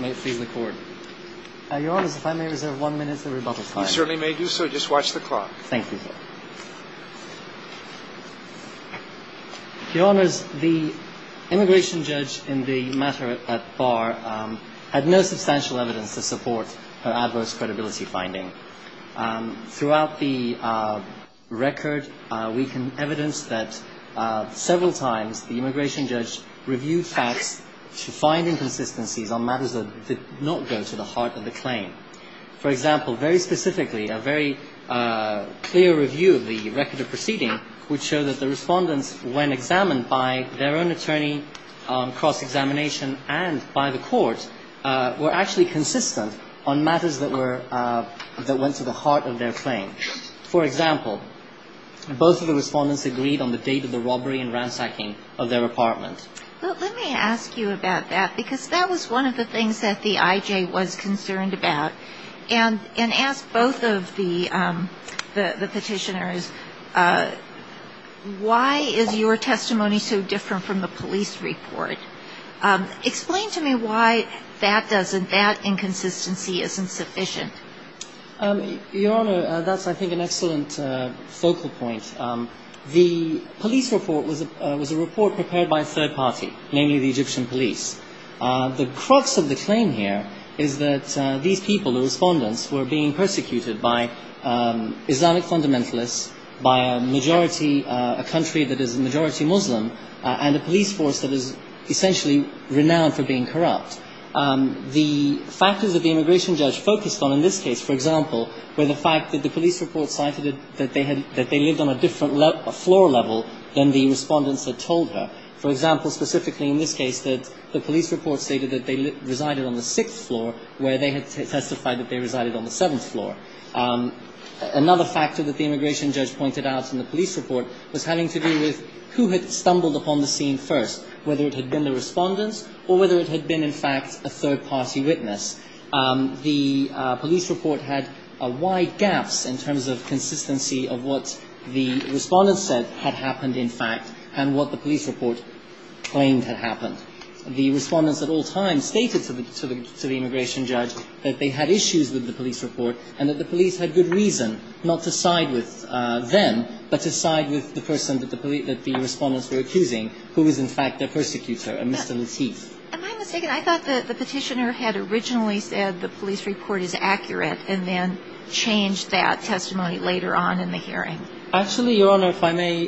May it please the Court. Your Honours, if I may reserve one minute for rebuttal time. You certainly may do so. Just watch the clock. Thank you, Your Honours. Your Honours, the immigration judge in the matter at bar had no substantial evidence to support her adverse credibility finding. Throughout the record we can evidence that several times the immigration judge reviewed facts to find inconsistencies on matters that did not go to the heart of the claim. For example, very specifically, a very clear review of the record of proceeding would show that the respondents, when examined by their own attorney, cross-examination and by the court, were actually consistent on matters that went to the heart of their claim. For example, both of the respondents agreed on the date of the robbery and ransacking of their apartment. But let me ask you about that, because that was one of the things that the IJ was concerned about. And ask both of the petitioners, why is your testimony so different from the police report? Explain to me why that doesn't, that inconsistency isn't sufficient. Your Honour, that's I think an excellent focal point. The police report was a report prepared by a third party, namely the Egyptian police. The crux of the claim here is that these people, the respondents, were being persecuted by Islamic fundamentalists, by a majority, a country that is a majority Muslim, and a police force that is essentially renowned for being corrupt. The factors that the immigration judge focused on in this case, for example, were the fact that the police report cited that they lived on a different floor level than the respondents had told her. For example, specifically in this case, that the police report stated that they resided on the sixth floor, where they had testified that they resided on the seventh floor. Another factor that the immigration judge pointed out in the police report was having to do with who had stumbled upon the scene first, whether it had been the respondents or whether it had been, in fact, a third party witness. The police report had wide gaps in terms of consistency of what the respondents said had happened, in fact, and what the police report claimed had happened. The respondents at all times stated to the immigration judge that they had issues with the police report and that the police had good reason not to side with them, but to side with the person that the respondents were accusing, who was, in fact, their persecutor, a Mr. Lateef. Am I mistaken? I thought that the petitioner had originally said the police report is accurate and then changed that testimony later on in the hearing. Actually, Your Honor, if I may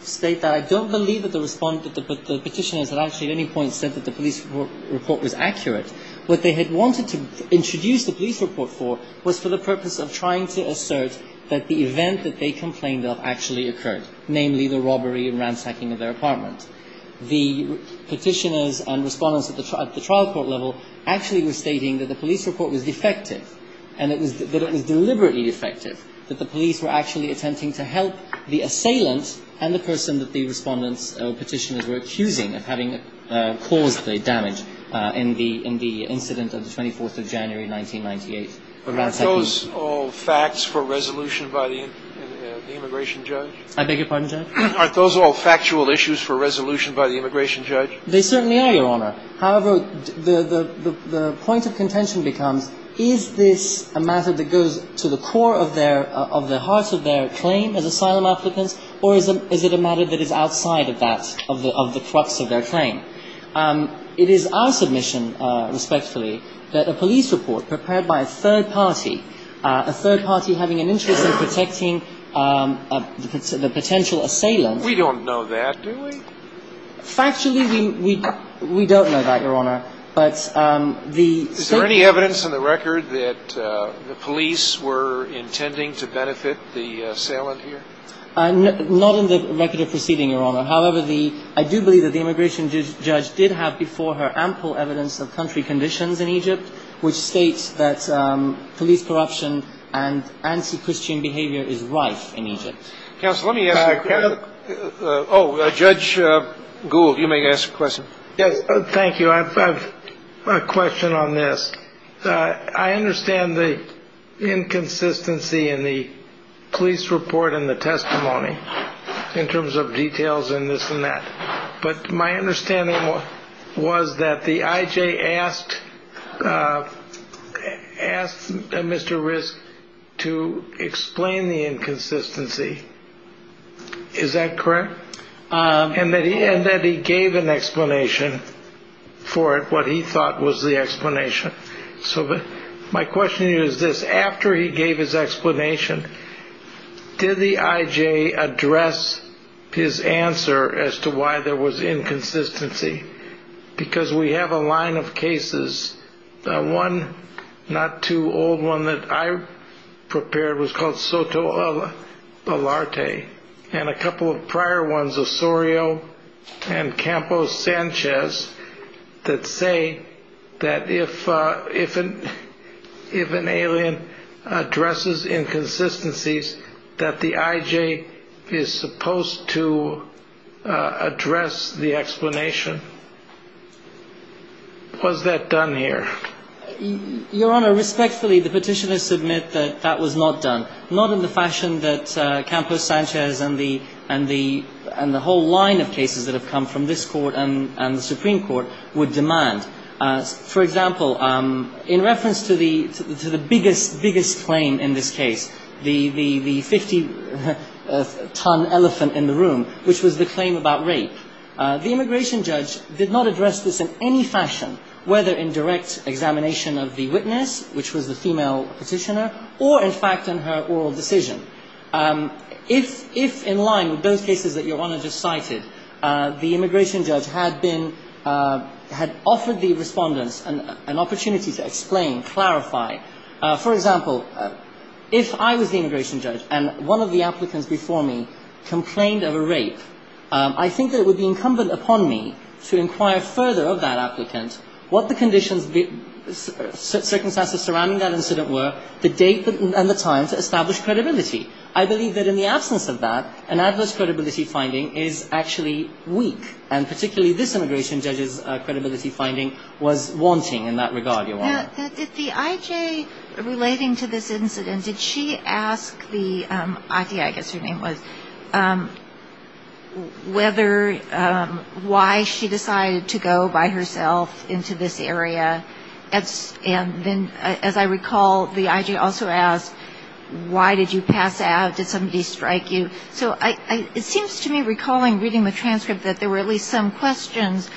state that, I don't believe that the petitioners had actually at any point said that the police report was accurate. What they had wanted to introduce the police report for was for the purpose of trying to assert that the event that they complained of actually occurred, namely the robbery and ransacking of their apartment. The petitioners and respondents at the trial court level actually were stating that the police report was defective, and that it was deliberately defective, that the police were actually attempting to frame the defendant. They were attempting to help the assailant and the person that the respondents or petitioners were accusing of having caused the damage in the incident of the 24th of January, 1998. But aren't those all facts for resolution by the immigration judge? I beg your pardon, Judge? Aren't those all factual issues for resolution by the immigration judge? They certainly are, Your Honor. However, the point of contention becomes, is this a matter that goes to the core of their heart of their claim as asylum applicants, or is it a matter that is outside of that, of the crux of their claim? It is our submission, respectfully, that a police report prepared by a third party, a third party having an interest in protecting the potential assailant. We don't know that, do we? Factually, we don't know that, Your Honor. Is there any evidence on the record that the police were intending to benefit the assailant here? Not on the record of proceeding, Your Honor. However, I do believe that the immigration judge did have before her ample evidence of country conditions in Egypt, which states that police corruption and anti-Christian behavior is rife in Egypt. Counsel, let me ask you a question. Judge Gould, you may ask a question. Thank you. I have a question on this. I understand the inconsistency in the police report and the testimony in terms of details and this and that. But my understanding was that the I.J. asked Mr. Risk to explain the inconsistency. Is that correct? And that he gave an explanation for it, what he thought was the explanation. So my question to you is this. After he gave his explanation, did the I.J. address his answer as to why there was inconsistency? Because we have a line of cases. One not too old one that I prepared was called Soto Alarte. And a couple of prior ones, Osorio and Campos Sanchez, that say that if an alien addresses inconsistencies, that the I.J. is supposed to address the explanation. Was that done here? Your Honor, respectfully, the petitioners submit that that was not done. Not in the fashion that Campos Sanchez and the whole line of cases that have come from this court and the Supreme Court would demand. For example, in reference to the biggest claim in this case, the 50-ton elephant in the room, which was the claim about rape, the immigration judge did not address this in any fashion, whether in direct examination of the witness, which was the female petitioner, or in fact in her oral decision. If, in line with those cases that Your Honor just cited, the immigration judge had been, had offered the respondents an opportunity to explain, clarify. For example, if I was the immigration judge and one of the applicants before me complained of a rape, I think that it would be appropriate for the immigration judge to say, Your Honor, it would be incumbent upon me to inquire further of that applicant what the conditions, circumstances surrounding that incident were, the date and the time to establish credibility. I believe that in the absence of that, an adverse credibility finding is actually weak. And particularly this immigration judge's credibility finding was wanting in that regard, Your Honor. Now, did the IJ relating to this incident, did she ask the I.T.I. I guess her name was, whether the I.T.I. was a criminal case, whether the I.T.I. was a criminal case, or whether the I.T.I. was a criminal case. Why she decided to go by herself into this area. And then, as I recall, the I.J. also asked, why did you pass out? Did somebody strike you? So it seems to me, recalling reading the transcript, that there were at least some questions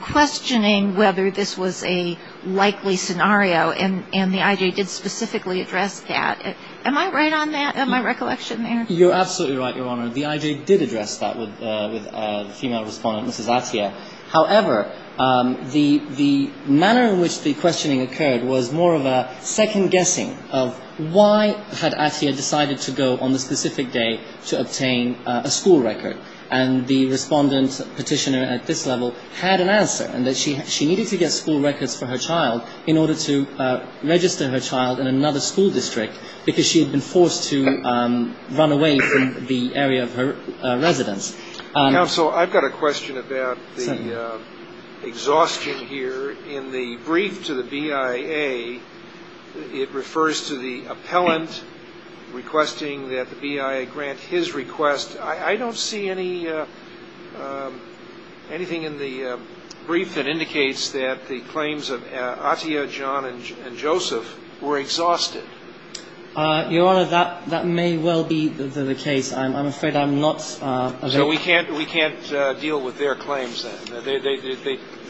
questioning whether this was a likely scenario, and the I.J. did specifically address that. Am I right on that, in my recollection there? You're absolutely right, Your Honor. The I.J. did address that with the female respondent, Mrs. Atiyah. However, the manner in which the questioning occurred was more of a second-guessing of why had Atiyah decided to go on the specific day to obtain a school record. And the respondent petitioner at this level had an answer, in that she needed to get school records for her child in order to register her child in another school district, because she had been forced to run away from school. And she had been forced to run away from the area of her residence. Counsel, I've got a question about the exhaustion here. In the brief to the B.I.A., it refers to the appellant requesting that the B.I.A. grant his request. I don't see anything in the brief that indicates that the claims of Atiyah, John, and Joseph were exhausted. I'm afraid I'm not aware of that. So we can't deal with their claims, then?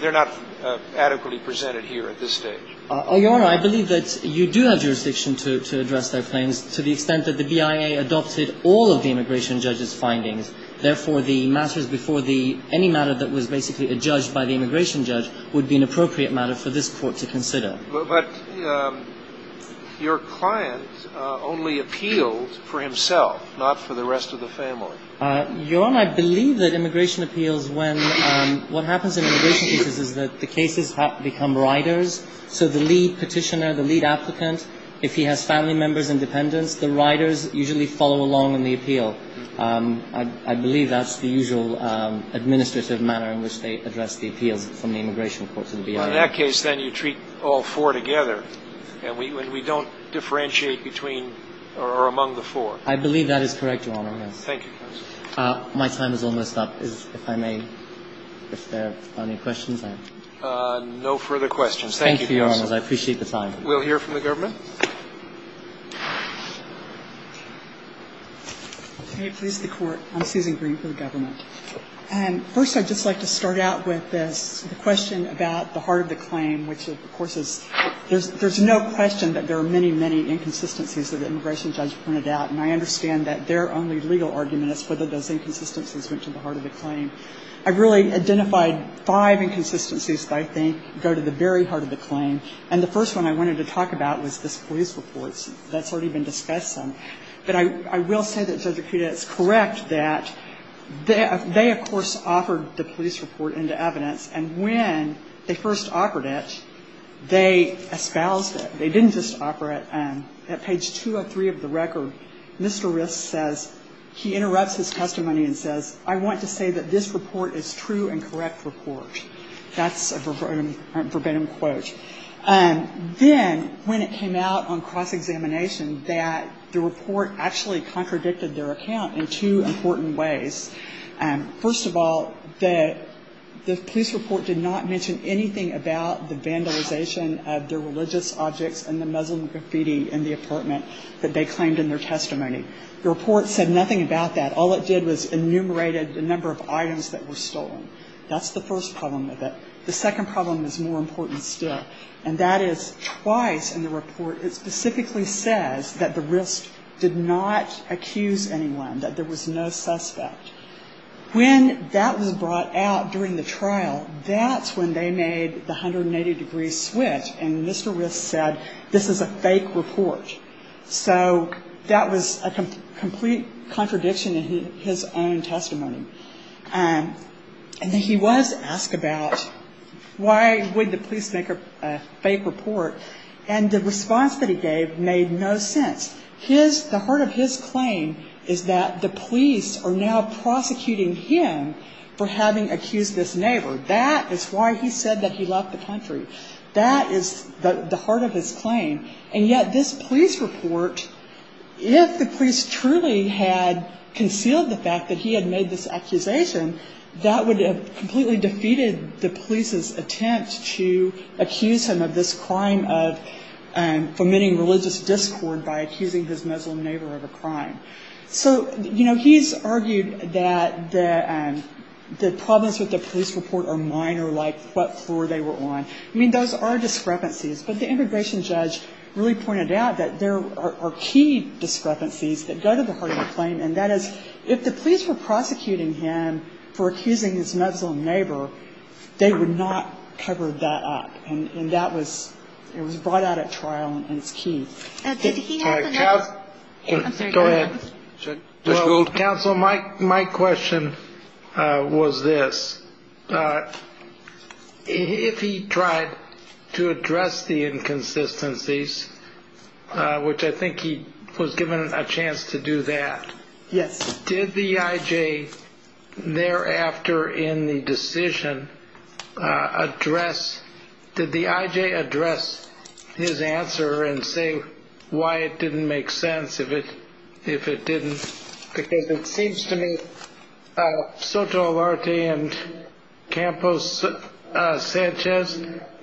They're not adequately presented here at this stage. Oh, Your Honor, I believe that you do have jurisdiction to address their claims, to the extent that the B.I.A. adopted all of the immigration judge's findings. Therefore, the matters before the – any matter that was basically adjudged by the immigration judge would be an appropriate matter for this Court to consider. But your client only appealed for himself, not for the B.I.A. Your Honor, I believe that immigration appeals, when – what happens in immigration cases is that the cases become riders. So the lead petitioner, the lead applicant, if he has family members and dependents, the riders usually follow along in the appeal. I believe that's the usual administrative manner in which they address the appeals from the immigration court to the B.I.A. Well, in that case, then, you treat all four together, and we don't differentiate between or among the four. I believe that is correct, Your Honor. Thank you, counsel. My time is almost up. If I may, if there are any questions. No further questions. Thank you, counsel. Thank you, Your Honor. I appreciate the time. We'll hear from the government. May it please the Court. I'm Susan Green for the government. First, I'd just like to start out with this question about the heart of the claim, which, of course, is – there's no question that there are many, many inconsistencies that the immigration judge printed out. And I understand that their only legal argument is whether those inconsistencies went to the heart of the claim. I've really identified five inconsistencies that I think go to the very heart of the claim. And the first one I wanted to talk about was this police report that's already been discussed some. But I will say that, Judge Akita, it's correct that they, of course, offered the police report into evidence. And when they first offered it, they espoused it. They didn't just offer it. At page 203 of the record, Mr. Risk says – he interrupts his testimony and says, I want to say that this report is true and correct report. That's a verbatim quote. Then when it came out on cross-examination that the report actually contradicted their account in two important ways. First of all, the police report did not mention anything about the vandalization of their religious objects and the Muslim graffiti in the apartment that they claimed in their testimony. The report said nothing about that. All it did was enumerated the number of items that were stolen. That's the first problem with it. The second problem is more important still. And that is twice in the report it specifically says that the Risk did not accuse anyone, that there was no suspect. When that was brought out during the trial, that's when they made the 180-degree switch and Mr. Risk said this is a fake report. So that was a complete contradiction in his own testimony. And he was asked about why would the police make a fake report. And the response that he gave made no sense. The heart of his claim is that the police are now prosecuting him for having accused this neighbor. That is why he said that he left the country. That is the heart of his claim. And yet this police report, if the police truly had concealed the fact that he had made this accusation, that would have completely defeated the police's attempt to accuse him of this crime of permitting religious discord by accusing his Muslim neighbor of a crime. So, you know, he's argued that the problems with the police report are minor like what floor they were on. I mean, those are discrepancies. But the immigration judge really pointed out that there are key discrepancies that go to the heart of the claim. And that is if the police were prosecuting him for accusing his Muslim neighbor, they would not cover that up. And that was it was brought out at trial. And it's key. Counsel, my my question was this. If he tried to address the inconsistencies, which I think he was given a chance to do that. Yes. Did the IJ thereafter in the decision address. Did the IJ address his answer and say why it didn't make sense if it if it didn't. Because it seems to me so to a large day and Campos Sanchez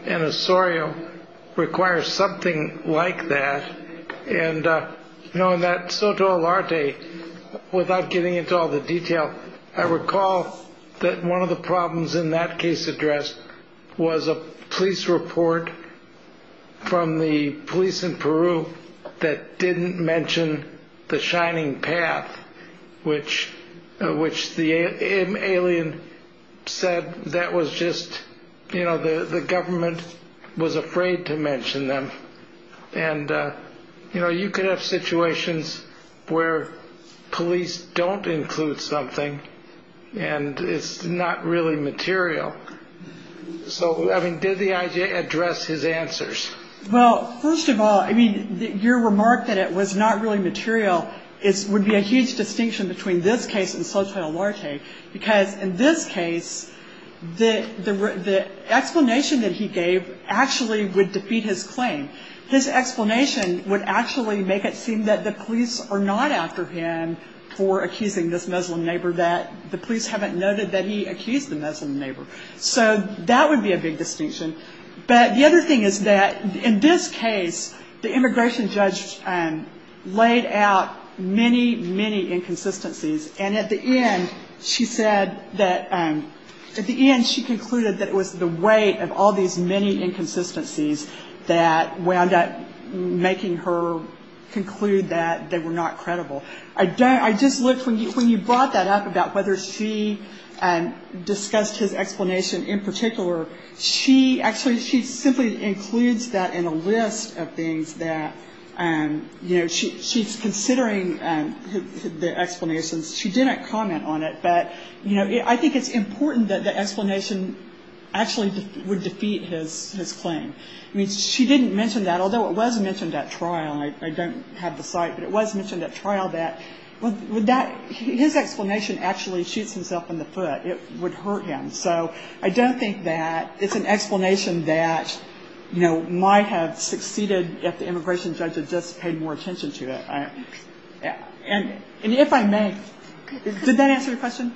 and Osorio require something like that. And, you know, that's so to a large day without getting into all the detail. I recall that one of the problems in that case address was a police report from the police in Peru that didn't mention the shining path. Which which the alien said that was just, you know, the government was afraid to mention them. And, you know, you could have situations where police don't include something and it's not really material. So, I mean, did the IJ address his answers? Well, first of all, I mean, your remark that it was not really material is would be a huge distinction between this case and so to a large day. Because in this case, the explanation that he gave actually would defeat his claim. His explanation would actually make it seem that the police are not after him for accusing this Muslim neighbor that the police haven't noted that he accused the Muslim neighbor. So that would be a big distinction. But the other thing is that in this case, the immigration judge laid out many, many inconsistencies. And at the end, she said that at the end she concluded that it was the weight of all these many inconsistencies that wound up making her conclude that they were not credible. I just looked when you brought that up about whether she discussed his explanation in particular. She actually she simply includes that in a list of things that, you know, she's considering the explanations. She didn't comment on it. But, you know, I think it's important that the explanation actually would defeat his claim. I mean, she didn't mention that, although it was mentioned at trial. I don't have the site, but it was mentioned at trial that his explanation actually shoots himself in the foot. It would hurt him. So I don't think that it's an explanation that, you know, might have succeeded if the immigration judge had just paid more attention to it. And if I may, did that answer your question?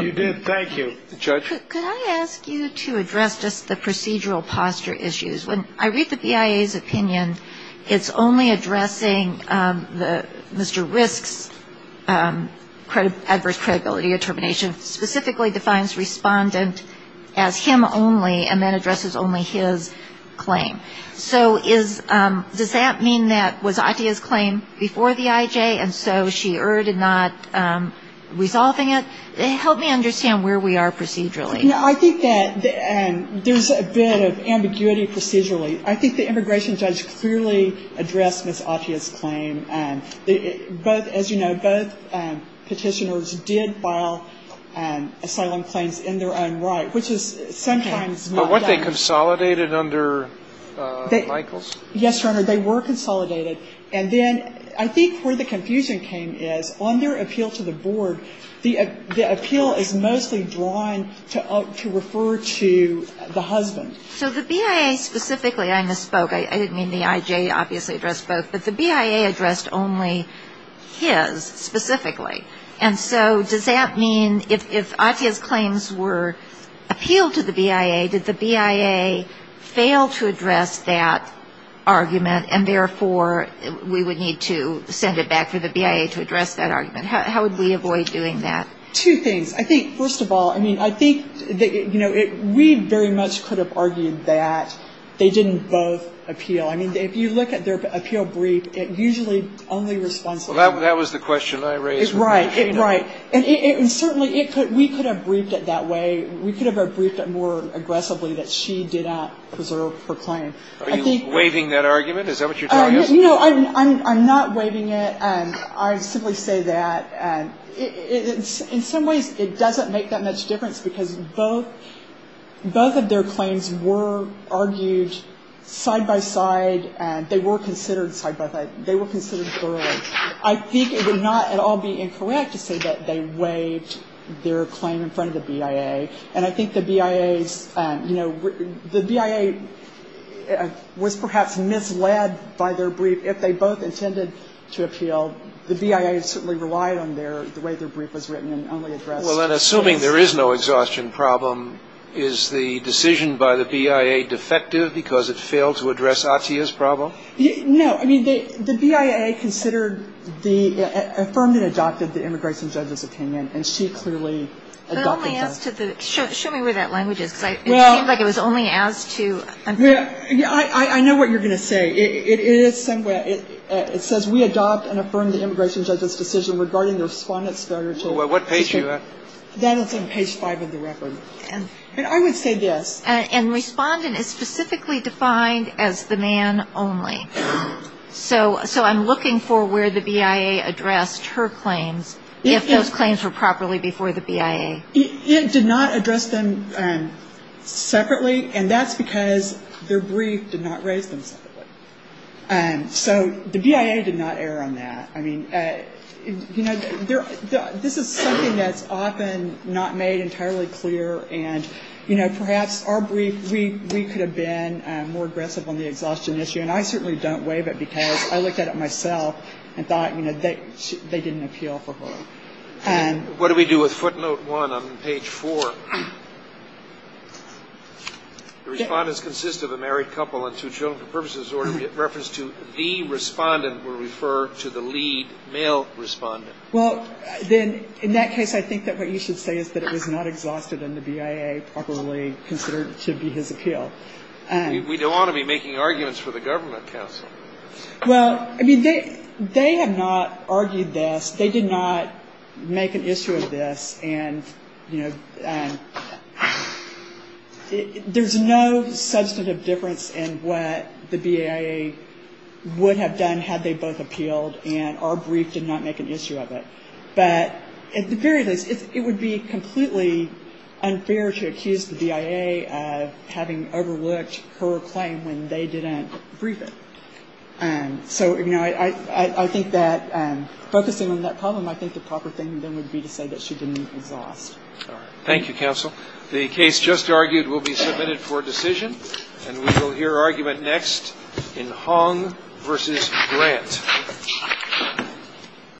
You did. Thank you, Judge. Could I ask you to address just the procedural posture issues? When I read the BIA's opinion, it's only addressing Mr. Risk's adverse credibility determination, specifically defines respondent as him only and then addresses only his claim. So does that mean that was Atiyah's claim before the IJ and so she erred in not resolving it? Help me understand where we are procedurally. No, I think that there's a bit of ambiguity procedurally. I think the immigration judge clearly addressed Ms. Atiyah's claim. Both, as you know, both Petitioners did file asylum claims in their own right, which is sometimes not done. But weren't they consolidated under Michaels? Yes, Your Honor. They were consolidated. And then I think where the confusion came is on their appeal to the board, the appeal is mostly drawn to refer to the husband. So the BIA specifically, I misspoke. I didn't mean the IJ obviously addressed both. But the BIA addressed only his specifically. And so does that mean if Atiyah's claims were appealed to the BIA, did the BIA fail to address that argument and therefore we would need to send it back for the BIA to address that argument? How would we avoid doing that? Two things. I think, first of all, I mean, I think that, you know, we very much could have argued that they didn't both appeal. I mean, if you look at their appeal brief, it usually only responds to the husband. Well, that was the question I raised. Right. Right. And certainly we could have briefed it that way. We could have briefed it more aggressively that she did not preserve her claim. Are you waiving that argument? Is that what you're telling us? No, I'm not waiving it. I simply say that in some ways it doesn't make that much difference because both of their claims were argued side-by-side. They were considered side-by-side. They were considered thoroughly. I think it would not at all be incorrect to say that they waived their claim in front of the BIA. And I think the BIA's, you know, the BIA was perhaps misled by their brief. If they both intended to appeal, the BIA certainly relied on their, the way their brief was written and only addressed. Well, then, assuming there is no exhaustion problem, is the decision by the BIA defective because it failed to address Atiyah's problem? No. I mean, the BIA considered the, affirmed and adopted the immigration judge's opinion, and she clearly adopted that. Well, what page are you at? That is on page five of the record. And I would say this. And respondent is specifically defined as the man only. So I'm looking for where the BIA addressed her claims, if those claims were properly before the BIA. It did not address them separately, and that's because their brief did not raise them separately. So the BIA did not err on that. I mean, you know, this is something that's often not made entirely clear. And, you know, perhaps our brief, we could have been more aggressive on the exhaustion issue. And I certainly don't waive it because I looked at it myself and thought, you know, they didn't appeal for her. What do we do with footnote one on page four? The respondents consist of a married couple and two children for purposes of reference to the respondent. We'll refer to the lead male respondent. Well, then in that case, I think that what you should say is that it was not exhausted, and the BIA probably considered it should be his appeal. We don't want to be making arguments for the government, counsel. Well, I mean, they have not argued this. They did not make an issue of this, and, you know, there's no substantive difference in what the BIA would have done had they both appealed, and our brief did not make an issue of it. But at the very least, it would be completely unfair to accuse the BIA of having overlooked her claim when they didn't brief it. So, you know, I think that focusing on that problem, I think the proper thing then would be to say that she didn't exhaust. All right. Thank you, counsel. The case just argued will be submitted for decision, and we will hear argument next in Hong v. Grant.